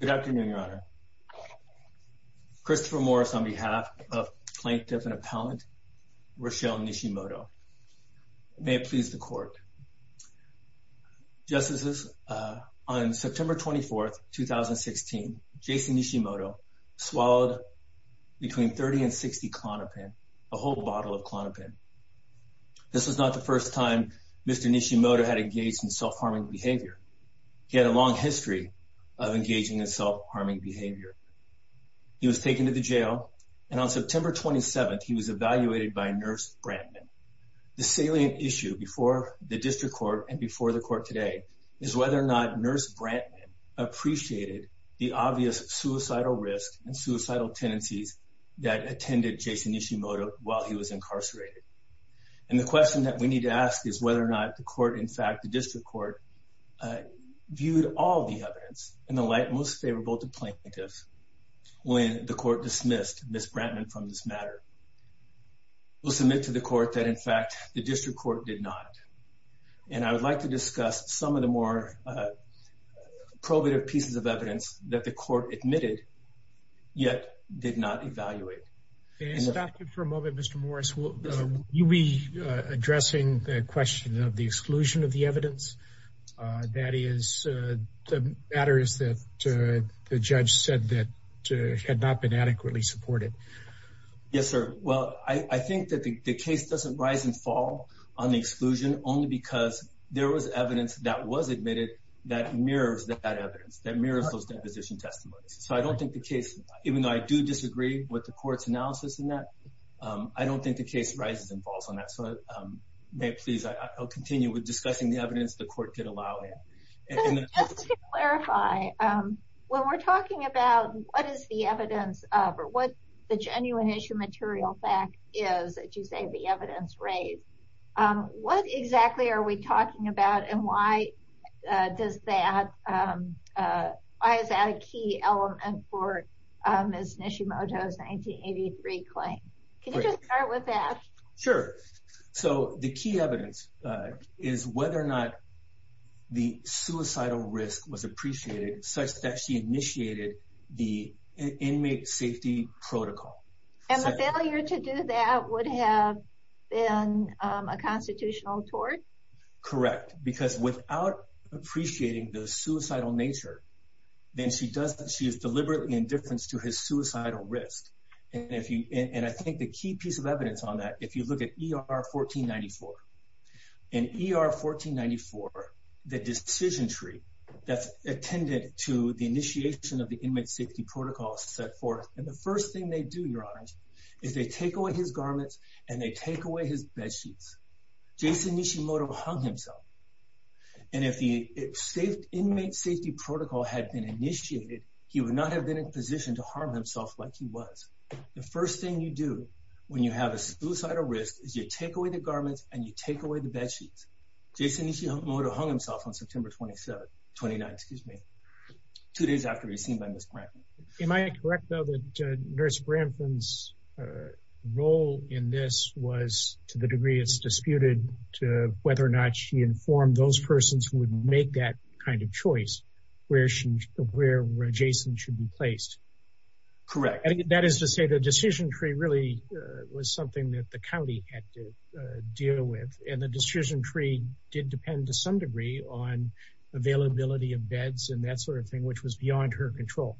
Good afternoon your honor. Christopher Morris on behalf of plaintiff and appellant Rochelle Nishimoto. May it please the court. Justices, on September 24th 2016 Jason Nishimoto swallowed between 30 and 60 Klonopin, a whole bottle of Klonopin. This was not the first time Mr. Nishimoto had engaged in self-harming behavior. He was taken to the jail and on September 27th he was evaluated by nurse Brantman. The salient issue before the district court and before the court today is whether or not nurse Brantman appreciated the obvious suicidal risk and suicidal tendencies that attended Jason Nishimoto while he was incarcerated. And the question that we need to ask is whether or not the district court viewed all the evidence in the light most favorable to plaintiff when the court dismissed Miss Brantman from this matter. We'll submit to the court that in fact the district court did not. And I would like to discuss some of the more probative pieces of evidence that the court admitted yet did not evaluate. May I stop you for a moment Mr. Morris. Will you be addressing the question of the exclusion of the evidence? That is the matter is that the judge said that had not been adequately supported. Yes sir. Well I think that the case doesn't rise and fall on the exclusion only because there was evidence that was admitted that mirrors that evidence that mirrors those deposition testimonies. So I don't think the case even though I do disagree with the court's analysis in that I don't think the case rises and falls on that. So may please I'll continue with discussing the evidence the court did allow it. Just to clarify when we're talking about what is the evidence of or what the genuine issue material fact is that you say the evidence raised. What exactly are we talking about and why does that why is that a key element for Ms. Nishimoto's 1983 claim? Can you just start with that? Sure so the key evidence is whether or not the suicidal risk was appreciated such that she initiated the inmate safety protocol. And the failure to do that would have been a constitutional tort? Correct because without appreciating the suicidal nature then she doesn't she is deliberately indifference to his suicidal risk. And if you and I think the key piece of evidence on that if you look at ER 1494 in ER 1494 the decision tree that's attended to the initiation of the inmate safety protocol set forth and the first thing they do your honors is they take away his garments and they take away his bedsheets. Jason Nishimoto hung himself. And if the inmate safety protocol had been initiated he would not have been in a position to harm himself like he was. The first thing you do when you have a suicidal risk is you take away the garments and you take away the bedsheets. Jason Nishimoto hung himself on September 27, 29 excuse me, two days after he was seen by Ms. Brampton. Am I correct though that Nurse Brampton's role in this was to the degree it's disputed to whether or not she informed those persons who would make that kind of choice where Jason should be placed? Correct. That is to say the decision tree really was something that the county had to deal with and the decision tree did depend to some degree on availability of beds and that sort of thing which was beyond her control.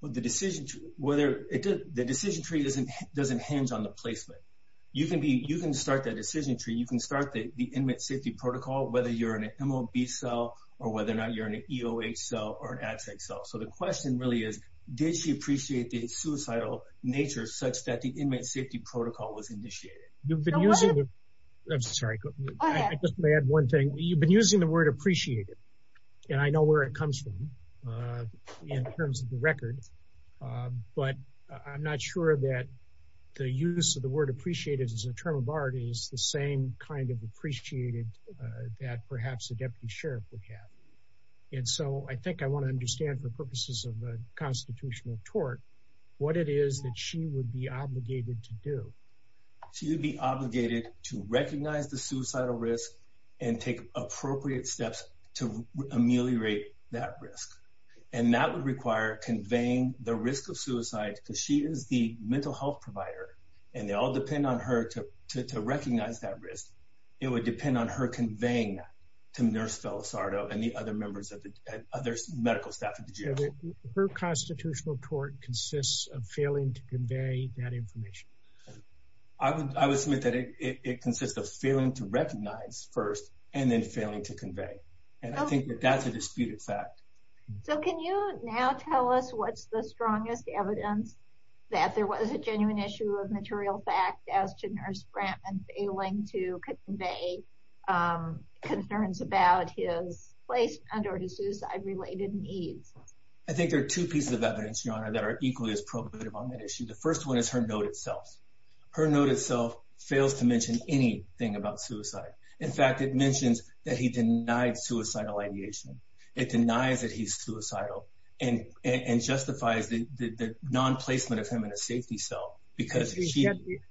Well the decision tree doesn't hinge on the placement. You can be you can start that decision tree you can start the inmate safety protocol whether you're in a MOB cell or whether or not you're in an EOH cell or an absent cell. So the question really is did she appreciate the suicidal nature such that the inmate safety protocol was initiated? You've been using, I'm sorry, I just may add one thing. You've been using the word appreciated and I know where it comes from in terms of the record but I'm not sure that the use of the word appreciated as a term of art is the same kind of appreciated that perhaps a deputy sheriff would have. And so I think I want to understand for purposes of the constitutional tort what it is that she would be obligated to do. She would be obligated to recognize the suicidal risk and take appropriate steps to ameliorate that risk. And that would require conveying the risk of suicide because she is the mental health provider and they all depend on her to recognize that risk. It would depend on her conveying that to Nurse Villasardo and the other members of the other medical staff. Her constitutional tort consists of failing to convey that information. I would submit that it consists of failing to fact. So can you now tell us what's the strongest evidence that there was a genuine issue of material fact as to Nurse Brantman failing to convey concerns about his placement or his suicide-related needs? I think there are two pieces of evidence, Your Honor, that are equally as probative on that issue. The first one is her note itself. Her note itself fails to mention anything about suicide. In fact, it mentions that he denied suicidal ideation. It denies that he's suicidal and justifies the non-placement of him in a safety cell because...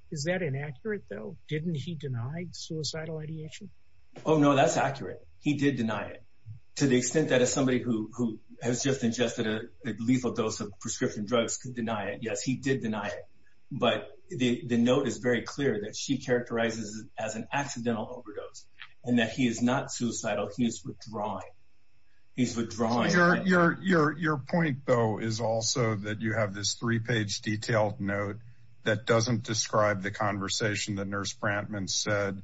Is that inaccurate though? Didn't he denied suicidal ideation? Oh no, that's accurate. He did deny it to the extent that as somebody who has just ingested a lethal dose of prescription drugs could deny it. Yes, he did deny it. But the note is very clear that she characterizes it as an accidental overdose and that he is not suicidal. He is withdrawing. He's withdrawing. Your point though is also that you have this three page detailed note that doesn't describe the conversation that Nurse Brantman said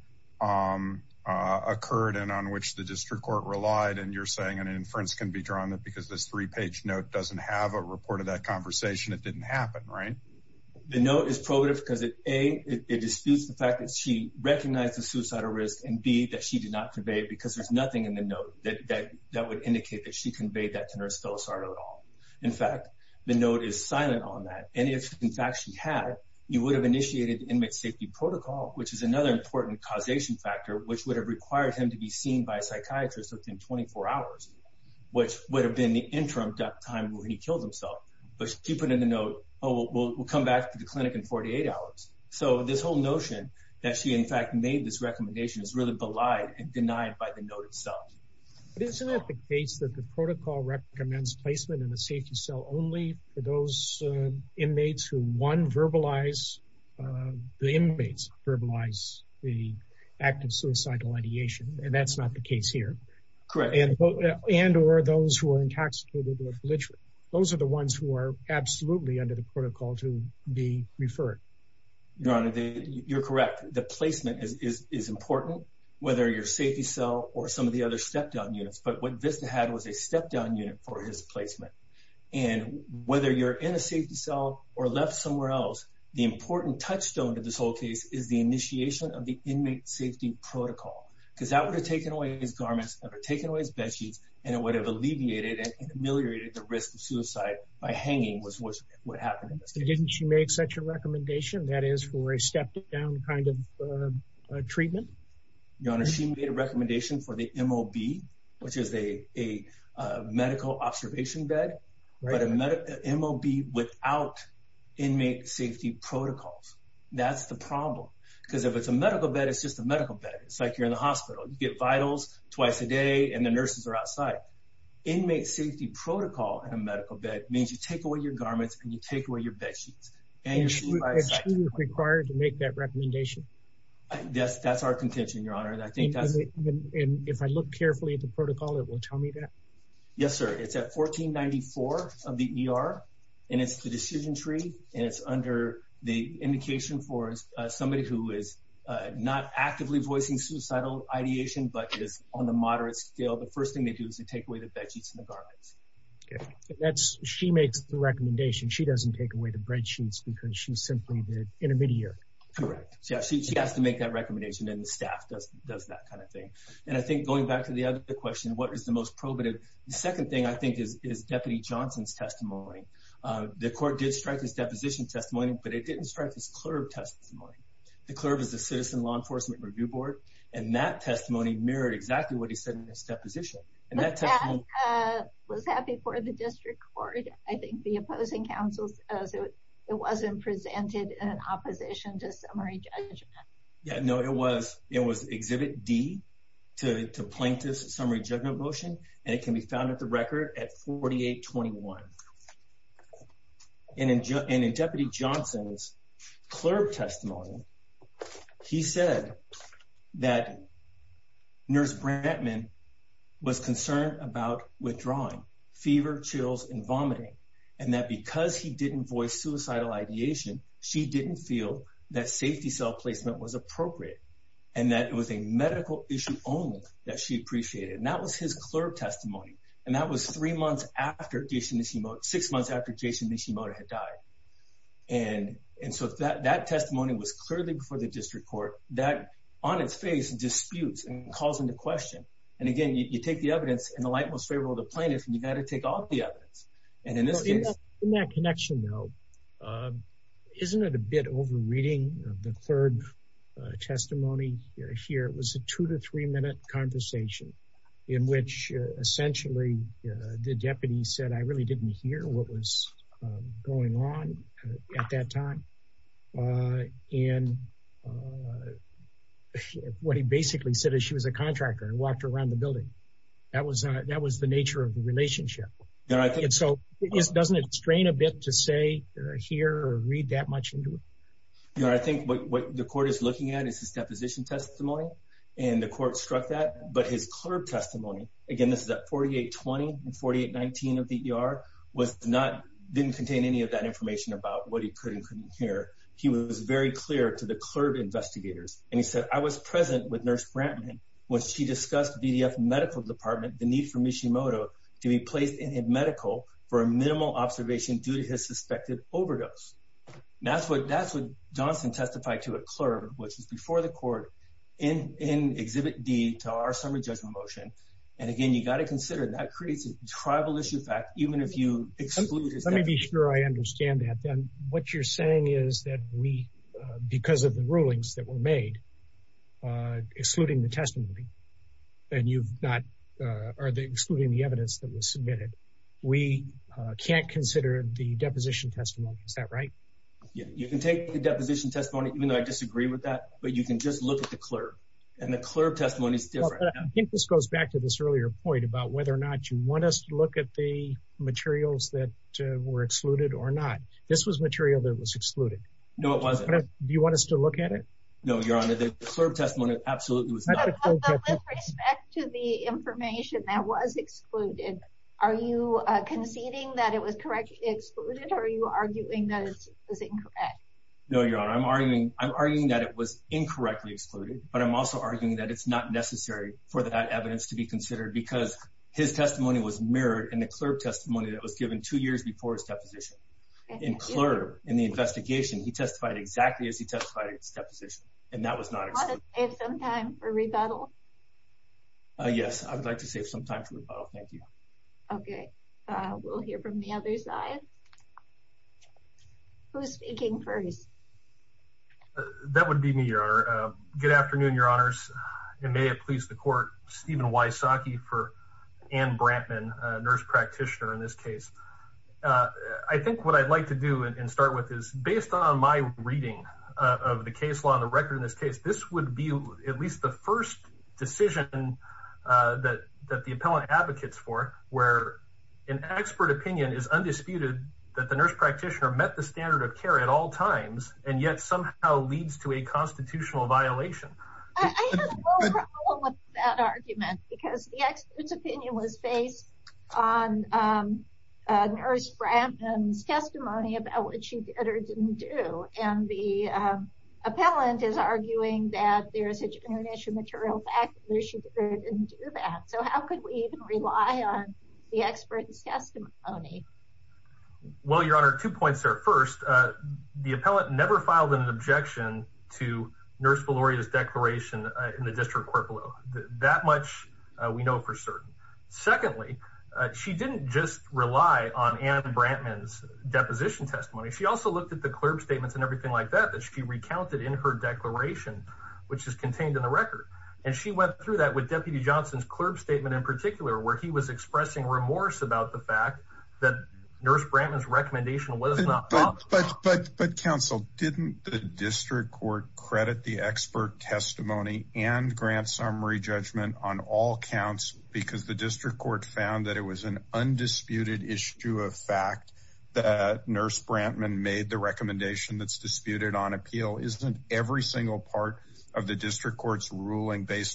occurred and on which the district court relied. And you're saying an inference can be drawn that because this three page note doesn't have a report of that conversation. It didn't happen, right? The note is probative because A, it disputes the fact that she recognized the suicidal risk and B, that she did not convey it because there's nothing in the note that would indicate that she conveyed that to Nurse Filosardo at all. In fact, the note is silent on that. And if in fact she had, you would have initiated the inmate safety protocol, which is another important causation factor, which would have required him to be seen by a psychiatrist within 24 hours, which would have been the interim time when he killed himself. But she put in the note, oh, we'll come back to the clinic in 48 hours. So this whole notion that she in fact made this recommendation is really belied and denied by the note itself. But isn't it the case that the protocol recommends placement in a safety cell only for those inmates who one, verbalize, the inmates verbalize the act of suicidal ideation. And that's not the case here. Correct. And or those who are intoxicated or belligerent. Those are the ones who are absolutely under the protocol to be referred. Your Honor, you're correct. The placement is important, whether your safety cell or some of the other step down units. But what Vista had was a step down unit for his placement. And whether you're in a safety cell or left somewhere else, the important touchstone to this whole case is the initiation of the inmate safety protocol, because that would have taken away his garments, taken away his bed sheets, and it would have alleviated and ameliorated the risk of suicide by hanging was what would happen. Didn't she make such a recommendation that is for a step down kind of treatment? Your Honor, she made a recommendation for the MOB, which is a medical observation bed, but a MOB without inmate safety protocols. That's the it's like you're in the hospital. You get vitals twice a day, and the nurses are outside. Inmate safety protocol in a medical bed means you take away your garments and you take away your bed sheets. And she was required to make that recommendation. Yes, that's our contention, Your Honor. And I think that's if I look carefully at the protocol, it will tell me that. Yes, sir. It's at 1494 of the ER. And it's the decision tree. And it's under the actively voicing suicidal ideation, but it is on the moderate scale. The first thing they do is to take away the bed sheets and the garments. That's she makes the recommendation. She doesn't take away the bed sheets because she's simply the intermediary. Correct. She has to make that recommendation and the staff does that kind of thing. And I think going back to the other question, what is the most probative? The second thing I think is is Deputy Johnson's testimony. The court did strike this deposition testimony, but it didn't strike this testimony. The clerk is the Citizen Law Enforcement Review Board. And that testimony mirrored exactly what he said in his deposition. And that was happy for the district court. I think the opposing counsels as it wasn't presented in opposition to summary judgment. Yeah, no, it was. It was Exhibit D to plaintiff's summary judgment motion. And it can be found at the record at 4821. And in Deputy Johnson's clerk testimony, he said that Nurse Brentman was concerned about withdrawing fever, chills and vomiting, and that because he didn't voice suicidal ideation, she didn't feel that safety cell placement was appropriate and that it was a medical issue only that she appreciated. And that was his clerk testimony. And that was three months after Jason Nishimoto, six months after Jason Nishimoto had died. And and so that that testimony was clearly before the district court that on its face disputes and calls into question. And again, you take the evidence in the light most favorable to plaintiffs. You've got to take all the evidence. And in that connection, though, isn't it a bit over reading of the third testimony here? It was a two to three minute conversation in which essentially the deputy said, I really didn't hear what was going on at that time. And what he basically said is she was a contractor and walked around the building. That was that was the nature of the relationship. And I think it's so it doesn't strain a bit to say here or read that much into it. I think what the court is looking at is his deposition testimony and the court struck that. But his clerk testimony again, this is at forty eight, twenty and forty eight, nineteen of the year was not didn't contain any of that information about what he could and couldn't hear. He was very clear to the clerk investigators. And he said, I was present with Nurse Brantman when she discussed VDF Medical Department, the need for Nishimoto to be placed in a medical for a minimal observation due to his suspected overdose. That's what that's what Johnson testified to a clerk, which was before the court in Exhibit D to our summary judgment motion. And again, you got to consider that creates a tribal issue. In fact, even if you exclude it, let me be sure I understand that then what you're saying is that we because of the rulings that were made, excluding the testimony and you've not are excluding the evidence that was submitted, we can't consider the deposition testimony. Is that right? Yeah, you can take the deposition testimony, even though I disagree with that, but you can just look at the clerk and the clerk testimony is different. I think this goes back to this earlier point about whether or not you want us to look at the materials that were excluded or not. This was material that was excluded. No, it wasn't. Do you want us to look at it? No, Your Honor, the clerk testimony absolutely was not. With respect to the information that was excluded, are you conceding that it was correctly excluded or are you arguing that it was incorrect? No, Your Honor, I'm arguing I'm arguing that it was incorrectly excluded, but I'm also arguing that it's not necessary for that evidence to be considered because his testimony was mirrored in the clerk testimony that was given two years before his deposition in clerk in the investigation. He testified exactly as he testified in his deposition and that was not a time for rebuttal. Yes, I would like to save some time for rebuttal, thank you. OK, we'll hear from the other side. Who's speaking first? That would be me, Your Honor. Good afternoon, Your Honors, and may it please the court, Stephen Wysocki for Anne Brantman, nurse practitioner in this case. I think what I'd like to do and start with is based on my reading of the case law on the record in this case, this would be at least the first decision that that the an expert opinion is undisputed that the nurse practitioner met the standard of care at all times and yet somehow leads to a constitutional violation. I have no problem with that argument because the expert's opinion was based on Nurse Brantman's testimony about what she did or didn't do. And the appellant is arguing that there is such an issue, material fact that she didn't do that. So how could we even rely on the expert's testimony? Well, Your Honor, two points there. First, the appellant never filed an objection to Nurse Velouria's declaration in the district court below. That much we know for certain. Secondly, she didn't just rely on Anne Brantman's deposition testimony. She also looked at the clerk's statements and everything like that, that she recounted in her declaration, which is contained in the record. And she went through that with Deputy Johnson's clerk statement in particular, where he was expressing remorse about the fact that Nurse Brantman's recommendation was not thought. But but but counsel, didn't the district court credit the expert testimony and grant summary judgment on all counts because the district court found that it was an undisputed issue of fact that Nurse Brantman made the recommendation that's based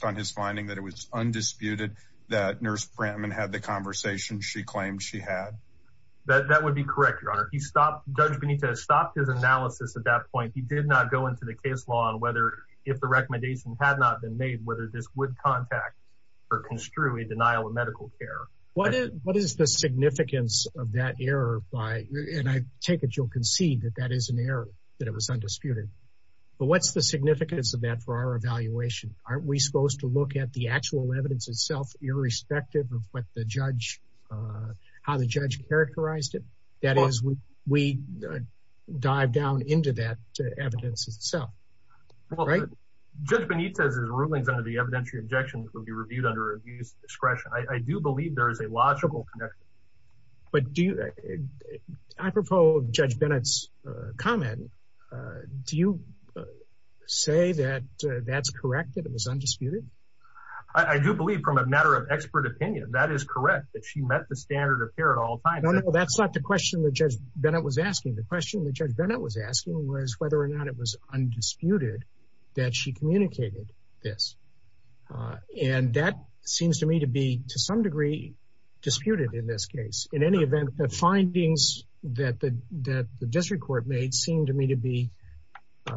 on his finding that it was undisputed that Nurse Brantman had the conversation she claimed she had. That would be correct, Your Honor. He stopped. Judge Benito stopped his analysis at that point. He did not go into the case law on whether if the recommendation had not been made, whether this would contact or construe a denial of medical care. What is what is the significance of that error by and I take it you'll concede that that is an error, that it was undisputed. But what's the significance of that for our evaluation? Aren't we supposed to look at the actual evidence itself, irrespective of what the judge, how the judge characterized it? That is, we we dive down into that evidence itself. All right. Judge Benito's rulings on the evidentiary objections will be reviewed under abuse discretion. I do believe there is a logical connection. But do you? I propose Judge Bennett's comment. Do you say that that's correct, that it was undisputed? I do believe from a matter of expert opinion, that is correct, that she met the standard of care at all times. That's not the question that Judge Bennett was asking. The question that Judge Bennett was asking was whether or not it was undisputed that she communicated this. And that seems to me to be to some degree disputed in this case. In any event, the findings that the district court made seem to me to be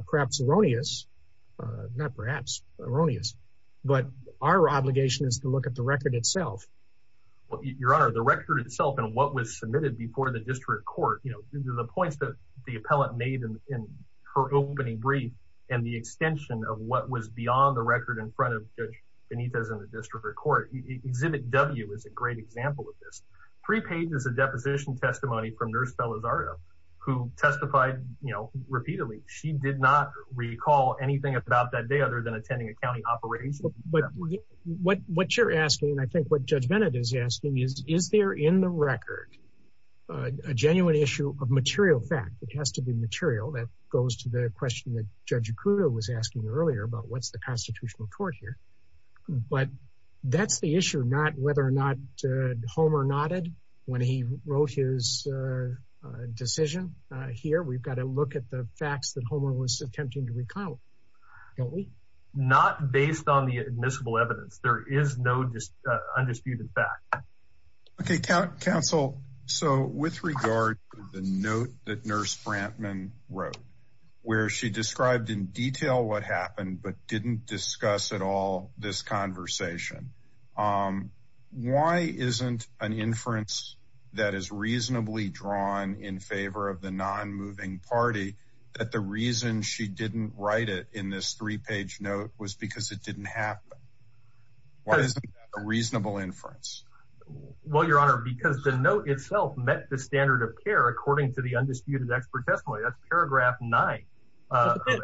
perhaps erroneous, not perhaps erroneous. But our obligation is to look at the record itself. Your Honor, the record itself and what was submitted before the district court, you know, the points that the appellant made in her opening brief and the extension of what was beyond the record in front of Judge Benito's in the district court, exhibit W is a great example of this. Three pages of deposition testimony from Nurse Bella Zardo, who testified, you know, repeatedly. She did not recall anything about that day other than attending a county operation. But what you're asking, I think what Judge Bennett is asking is, is there in the record a genuine issue of material fact? It has to be material. That goes to the question that Judge Kruger was asking earlier about what's the constitutional court here. But that's the issue, not whether or not Homer nodded when he wrote his decision here. We've got to look at the facts that Homer was attempting to recall, don't we? Not based on the admissible evidence. There is no undisputed fact. OK, counsel. So with regard to the note that Nurse Brantman wrote, where she described in detail what happened, but didn't discuss at all this conversation. Why isn't an inference that is reasonably drawn in favor of the non-moving party that the reason she didn't write it in this three page note was because it didn't happen? Why isn't that a reasonable inference? Well, Your Honor, because the note itself met the standard of care, according to the undisputed expert testimony. Paragraph nine. Mr.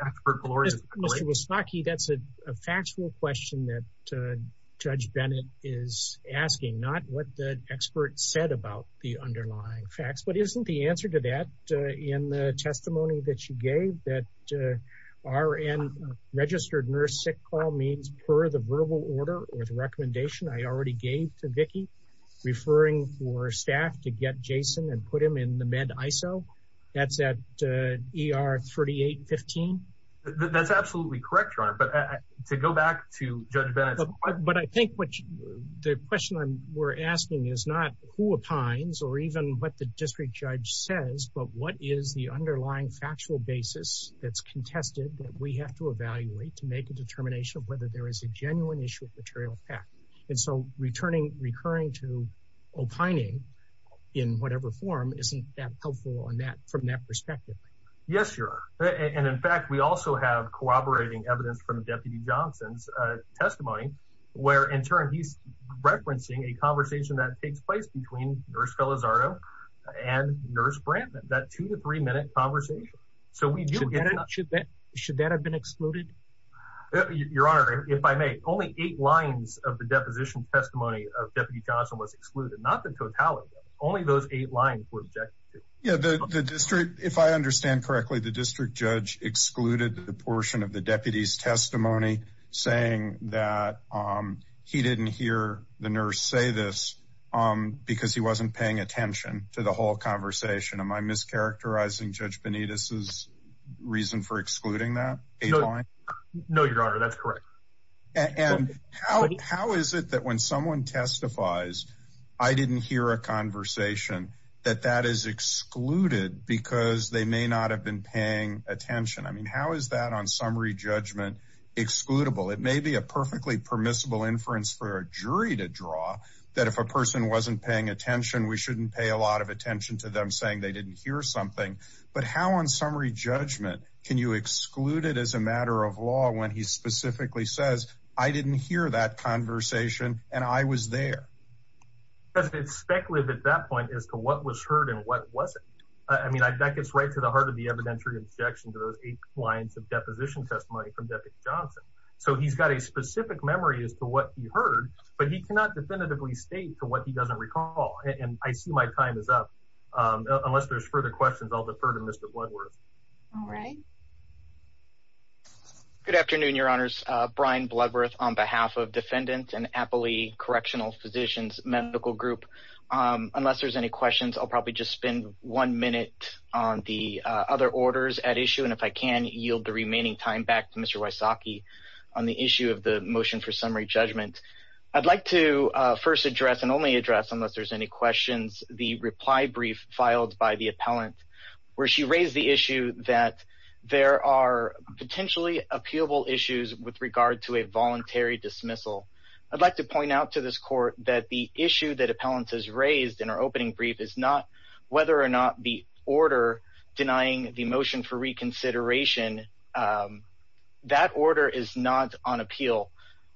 Wysaki, that's a factual question that Judge Bennett is asking, not what the expert said about the underlying facts. But isn't the answer to that in the testimony that you gave that RN registered nurse sick call means per the verbal order or the recommendation I already gave to Vicky referring for staff to get Jason and put him in the med ISO. That's at ER 3815. That's absolutely correct, Your Honor, but to go back to Judge Bennett, but I think what the question we're asking is not who opines or even what the district judge says, but what is the underlying factual basis that's contested that we have to evaluate to make a determination of whether there is a genuine issue of material fact. And so returning, recurring to opining in whatever form isn't that helpful on that from that perspective? Yes, Your Honor. And in fact, we also have corroborating evidence from Deputy Johnson's testimony where in turn he's referencing a conversation that takes place between nurse Felizardo and nurse Brantman, that two to three minute conversation. So we do get it. Should that should that have been excluded? Your Honor, if I may, only eight lines of the deposition testimony of Deputy Johnson was excluded, not the totality. Only those eight lines were objected to. Yeah, the district, if I understand correctly, the district judge excluded the portion of the deputy's testimony saying that he didn't hear the nurse say this because he wasn't paying attention to the whole conversation. Am I mischaracterizing Judge Benitez's reason for excluding that eight line? No, Your Honor, that's correct. And how how is it that when someone testifies, I didn't hear a conversation that that is excluded because they may not have been paying attention? I mean, how is that on summary judgment excludable? It may be a perfectly permissible inference for a jury to draw that if a person wasn't paying attention, we shouldn't pay a lot of attention to them saying they didn't hear something. But how on summary judgment can you exclude it as a matter of law when he specifically says, I didn't hear that conversation and I was there? Because it's speculative at that point as to what was heard and what wasn't. I mean, that gets right to the heart of the evidentiary objection to those eight lines of deposition testimony from Deputy Johnson. So he's got a specific memory as to what he heard, but he cannot definitively state to what he doesn't recall. And I see my time is up unless there's further questions. I'll defer to Mr. Bloodworth. All right. Good afternoon, Your Honors, Brian Bloodworth on behalf of Defendant and Appley Correctional Physicians Medical Group. Unless there's any questions, I'll probably just spend one minute on the other orders at issue. And if I can yield the remaining time back to Mr. Wysocki on the issue of the motion for summary judgment, I'd like to first address and only address, unless there's any questions, the reply brief filed by the appellant where she raised the issue that there are potentially appealable issues with regard to a voluntary dismissal. I'd like to point out to this court that the issue that appellants has raised in our opening brief is not whether or not the order denying the motion for reconsideration, that order is not on appeal.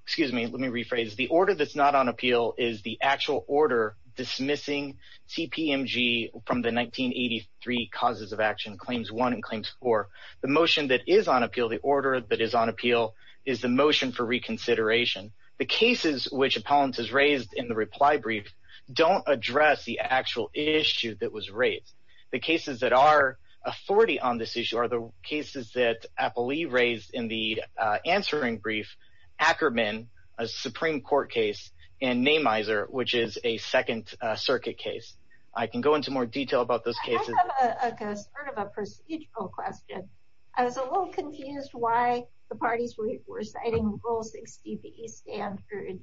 Excuse me, let me rephrase. The order that's not on appeal is the actual order dismissing TPMG from the 1983 Causes of Action Claims 1 and Claims 4. The motion that is on appeal, the order that is on appeal is the motion for reconsideration. The cases which appellants has raised in the reply brief don't address the actual issue that was raised. The cases that are authority on this issue are the cases that I believe raised in the answering brief, Ackerman, a Supreme Court case, and Namizer, which is a second circuit case. I can go into more detail about those cases. I have a sort of a procedural question. I was a little confused why the parties were citing Rule 60B Stanford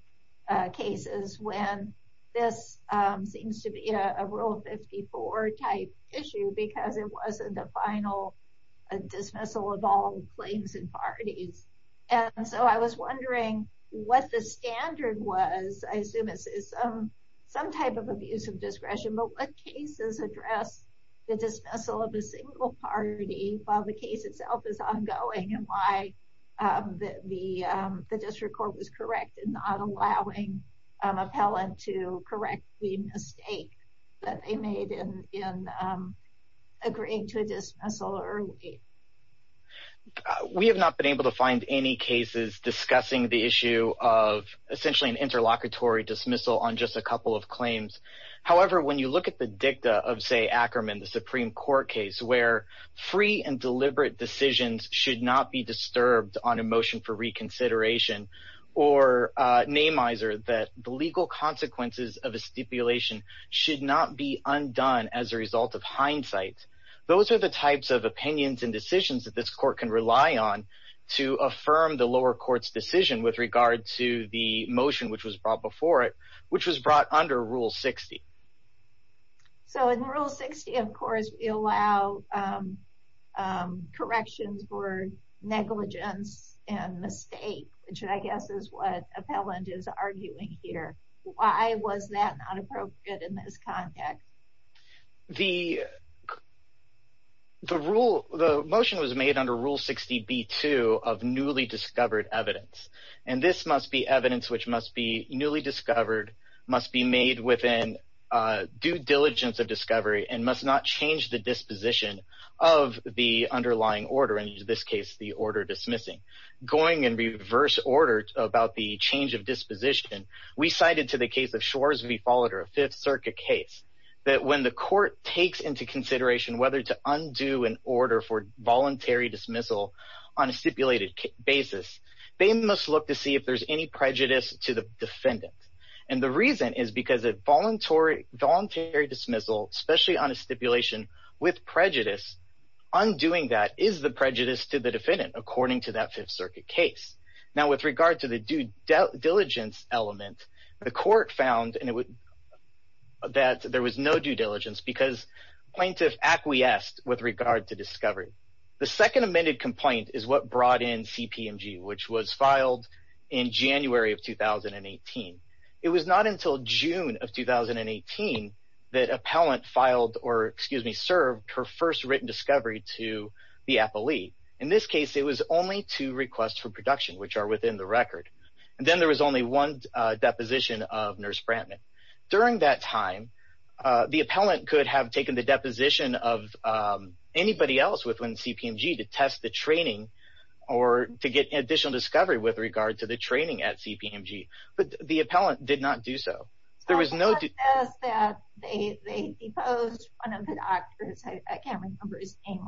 cases when this seems to be a Rule 54 type issue because it wasn't the final dismissal of all claims and parties. And so I was wondering what the standard was, I assume it's some type of abuse of discretion, but what cases address the dismissal of a single party while the case itself is a mistake that they made in agreeing to a dismissal early? We have not been able to find any cases discussing the issue of essentially an interlocutory dismissal on just a couple of claims. However, when you look at the dicta of, say, Ackerman, the Supreme Court case, where free and deliberate decisions should not be disturbed on a motion for reconsideration or Namizer, that the legal consequences of a stipulation should not be undone as a result of hindsight. Those are the types of opinions and decisions that this court can rely on to affirm the lower court's decision with regard to the motion which was brought before it, which was brought under Rule 60. So in Rule 60, of course, we allow corrections for negligence and mistake, which I guess is what Appellant is arguing here. Why was that not appropriate in this context? The rule, the motion was made under Rule 60B-2 of newly discovered evidence, and this must be evidence which must be newly discovered, must be made within due diligence of discovery, and must not change the disposition of the underlying order, in this case, the about the change of disposition. We cited to the case of Schwarz v. Fowler, a Fifth Circuit case, that when the court takes into consideration whether to undo an order for voluntary dismissal on a stipulated basis, they must look to see if there's any prejudice to the defendant. And the reason is because a voluntary dismissal, especially on a stipulation with prejudice, undoing that is the prejudice to the defendant, according to that Fifth Circuit case. Now, with regard to the due diligence element, the court found that there was no due diligence because plaintiff acquiesced with regard to discovery. The second amended complaint is what brought in CPMG, which was filed in January of 2018. It was not until June of 2018 that Appellant filed or, excuse me, served her first written discovery to the appellee. In this case, it was only two requests for production, which are within the record. And then there was only one deposition of Nurse Brantman. During that time, the appellant could have taken the deposition of anybody else within CPMG to test the training or to get additional discovery with regard to the training at CPMG. But the appellant did not do so. There was no... They deposed one of the doctors, I can't remember his name,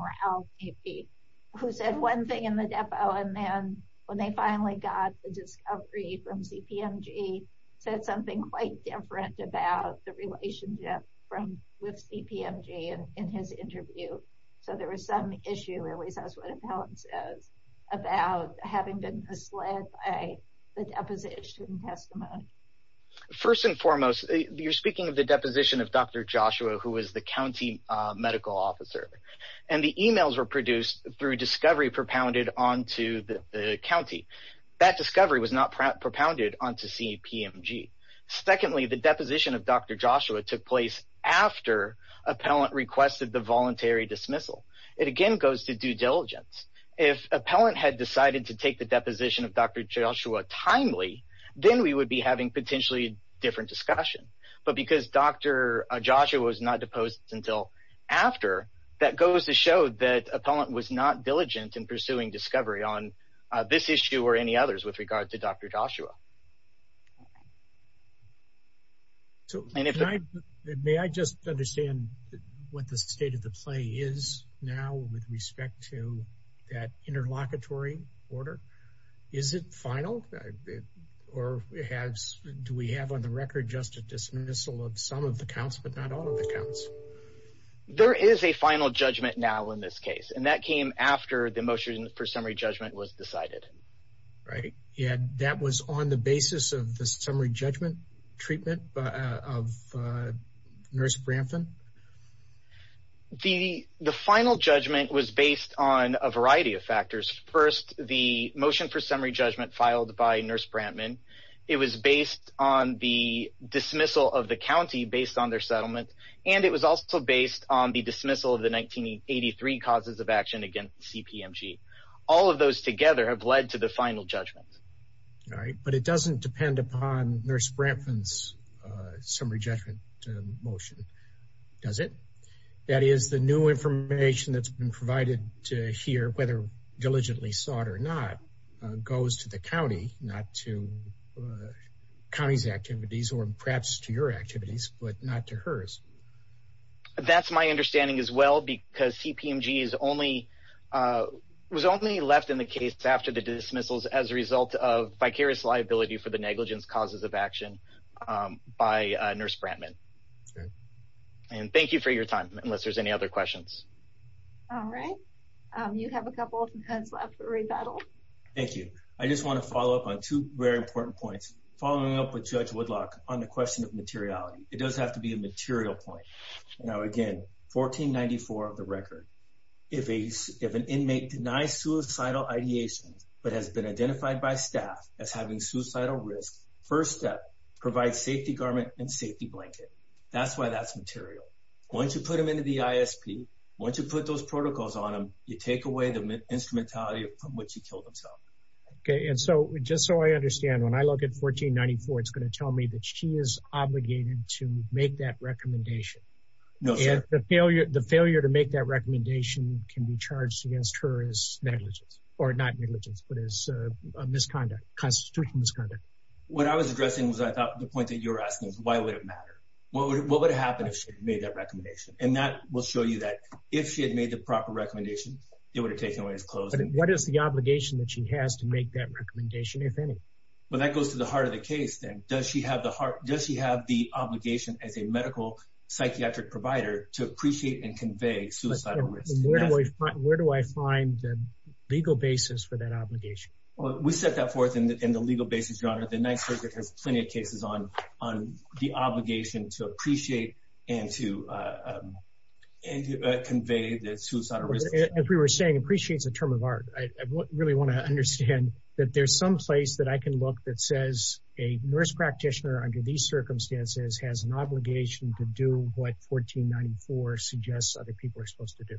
who said one thing in the depot. And then when they finally got the discovery from CPMG, said something quite different about the relationship with CPMG in his interview. So there was some issue, at least that's what Appellant says, about having been misled by the deposition testimony. First and foremost, you're speaking of the deposition of Dr. Joshua, who is the county medical officer. And the emails were produced through discovery propounded onto the county. That discovery was not propounded onto CPMG. Secondly, the deposition of Dr. Joshua took place after Appellant requested the voluntary dismissal. It again goes to due diligence. If Appellant had decided to take the deposition of Dr. Joshua, that would have been potentially a different discussion. But because Dr. Joshua was not deposed until after, that goes to show that Appellant was not diligent in pursuing discovery on this issue or any others with regard to Dr. Joshua. So may I just understand what the state of the play is now with respect to that interlocutory order? Is it final or do we have on the record just a dismissal of some of the counts, but not all of the counts? There is a final judgment now in this case, and that came after the motion for summary judgment was decided. Right. And that was on the basis of the summary judgment treatment of Nurse Brampton? The final judgment was based on a variety of factors. First, the motion for summary judgment filed by Nurse Brampton. It was based on the dismissal of the county based on their settlement, and it was also based on the dismissal of the 1983 causes of action against CPMG. All of those together have led to the final judgment. All right. But it doesn't depend upon Nurse Brampton's summary judgment motion, does it? That is the new information that's been provided to here, whether diligently sought or not, goes to the county, not to county's activities or perhaps to your activities, but not to hers. That's my understanding as well, because CPMG was only left in the case after the dismissals as a result of vicarious liability for the negligence causes of action by Nurse Brampton. Okay. And thank you for your time, unless there's any other questions. All right. You have a couple of minutes left to rebuttal. Thank you. I just want to follow up on two very important points, following up with Judge Woodlock on the question of materiality. It does have to be a material point. Now, again, 1494 of the record, if an inmate denies suicidal ideation but has been identified by staff as having suicidal risk, first step, provide safety garment and safety blanket. That's why that's material. Once you put them into the ISP, once you put those protocols on them, you take away the instrumentality from which he killed himself. Okay. And so, just so I understand, when I look at 1494, it's going to tell me that she is obligated to make that recommendation. No, sir. And the failure to make that recommendation can be charged against her as negligence, or not negligence, but as a misconduct, constitutional misconduct. What I was addressing was, I thought, the point that you're asking is, why would it matter? What would happen if she had made that recommendation? And that will show you that if she had made the proper recommendation, it would have taken away his clothes. What is the obligation that she has to make that recommendation, if any? Well, that goes to the heart of the case, then. Does she have the heart? Does she have the obligation as a medical psychiatric provider to appreciate and convey suicidal risk? Where do I find the legal basis for that obligation? Well, we set that forth in the legal basis, Your Honor. The Ninth Circuit has plenty of cases on the obligation to appreciate and to convey the suicidal risk. As we were saying, appreciate is a term of art. I really want to understand that there's some place that I can look that says a nurse practitioner, under these circumstances, has an obligation to do what 1494 suggests other people are supposed to do.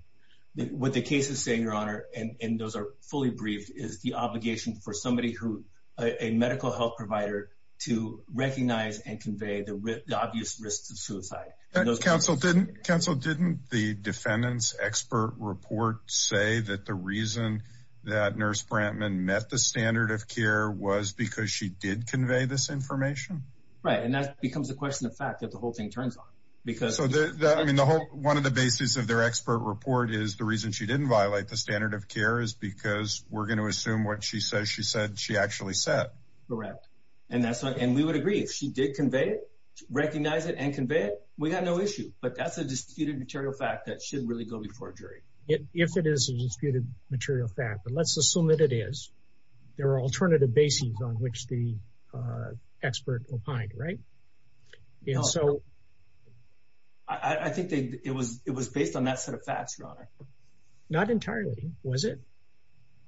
What the case is saying, Your Honor, and those are fully briefed, is the obligation for somebody who, a medical health provider, to recognize and convey the obvious risks of suicide. Counsel, didn't the defendant's expert report say that the reason that Nurse Brantman met the standard of care was because she did convey this information? Right. And that becomes a question of fact that the whole thing turns on. So, I mean, one of the bases of their expert report is the reason she didn't violate the standard of care is because we're going to assume what she says she said she actually said. Correct. And we would agree if she did convey it, recognize it and convey it, we got no issue. But that's a disputed material fact that should really go before a jury. If it is a disputed material fact, but let's assume that it is, there are alternative bases on which the expert opined, right? So, I think it was it was based on that set of facts, Your Honor. Not entirely, was it?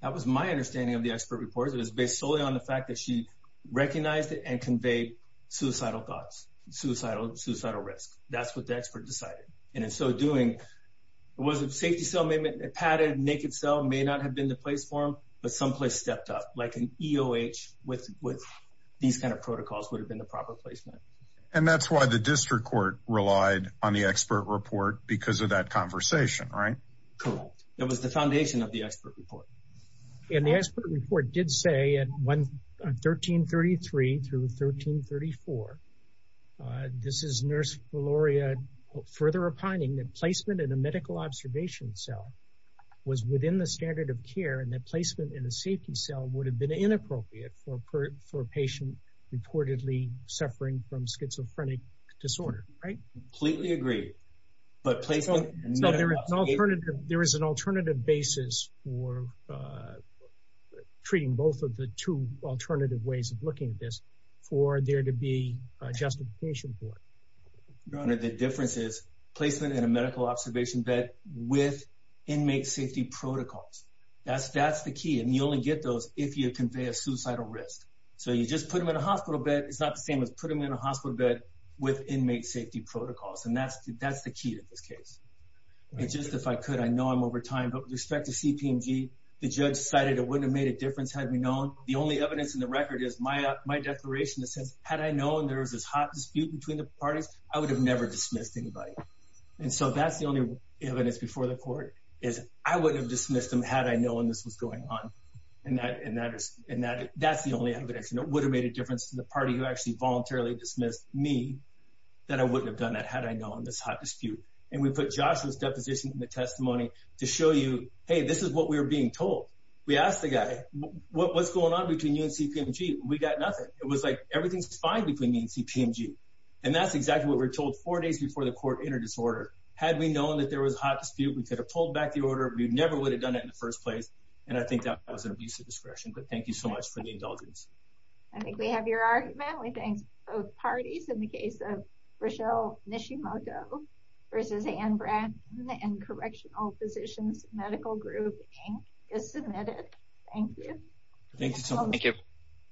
That was my understanding of the expert reports. It was based solely on the fact that she recognized it and conveyed suicidal thoughts, suicidal, suicidal risk. That's what the expert decided. And in so doing, it was a safety cell, a padded, naked cell may not have been the place for him, but someplace stepped up like an EOH with these kind of protocols would have been the proper placement. And that's why the district court relied on the expert report because of that conversation, right? Correct. That was the foundation of the expert report. And the expert report did say at 1333 through 1334, this is Nurse Valoria further opining that placement in a medical observation cell was within the standard of care and that placement in a safety cell would have been inappropriate for a patient reportedly suffering from schizophrenic disorder. Right. Completely agree. But there is an alternative basis for treating both of the two alternative ways of looking at this for there to be a justification for it. Your Honor, the difference is placement in a medical observation bed with inmate safety protocols. That's the key. And you only get those if you convey a suicidal risk. So you just put him in a hospital bed. It's not the same as put him in a hospital bed with inmate safety protocols. And that's that's the key to this case. And just if I could, I know I'm over time, but with respect to CPMG, the judge cited it wouldn't have made a difference had we known. The only evidence in the record is my my declaration that says had I known there was this hot dispute between the parties, I would have never dismissed anybody. And so that's the only evidence before the court is I would have dismissed him had I known this was going on. And that and that is and that that's the only evidence that would have made a difference to the party who actually voluntarily dismissed me that I wouldn't have done that had I known this hot dispute. And we put Joshua's deposition in the testimony to show you, hey, this is what we're being told. We asked the guy, what's going on between you and CPMG? We got nothing. It was like everything's fine between me and CPMG. And that's exactly what we're told four days before the court entered his order. Had we known that there was a hot dispute, we could have pulled back the order. We never would have done that in the first place. And I think that was an abuse of discretion. But thank you so much for the indulgence. I think we have your argument. We think both parties in the case of Rochelle Nishimoto versus Anne Bracken and Correctional Physicians Medical Group Inc. is submitted. Thank you. Thank you.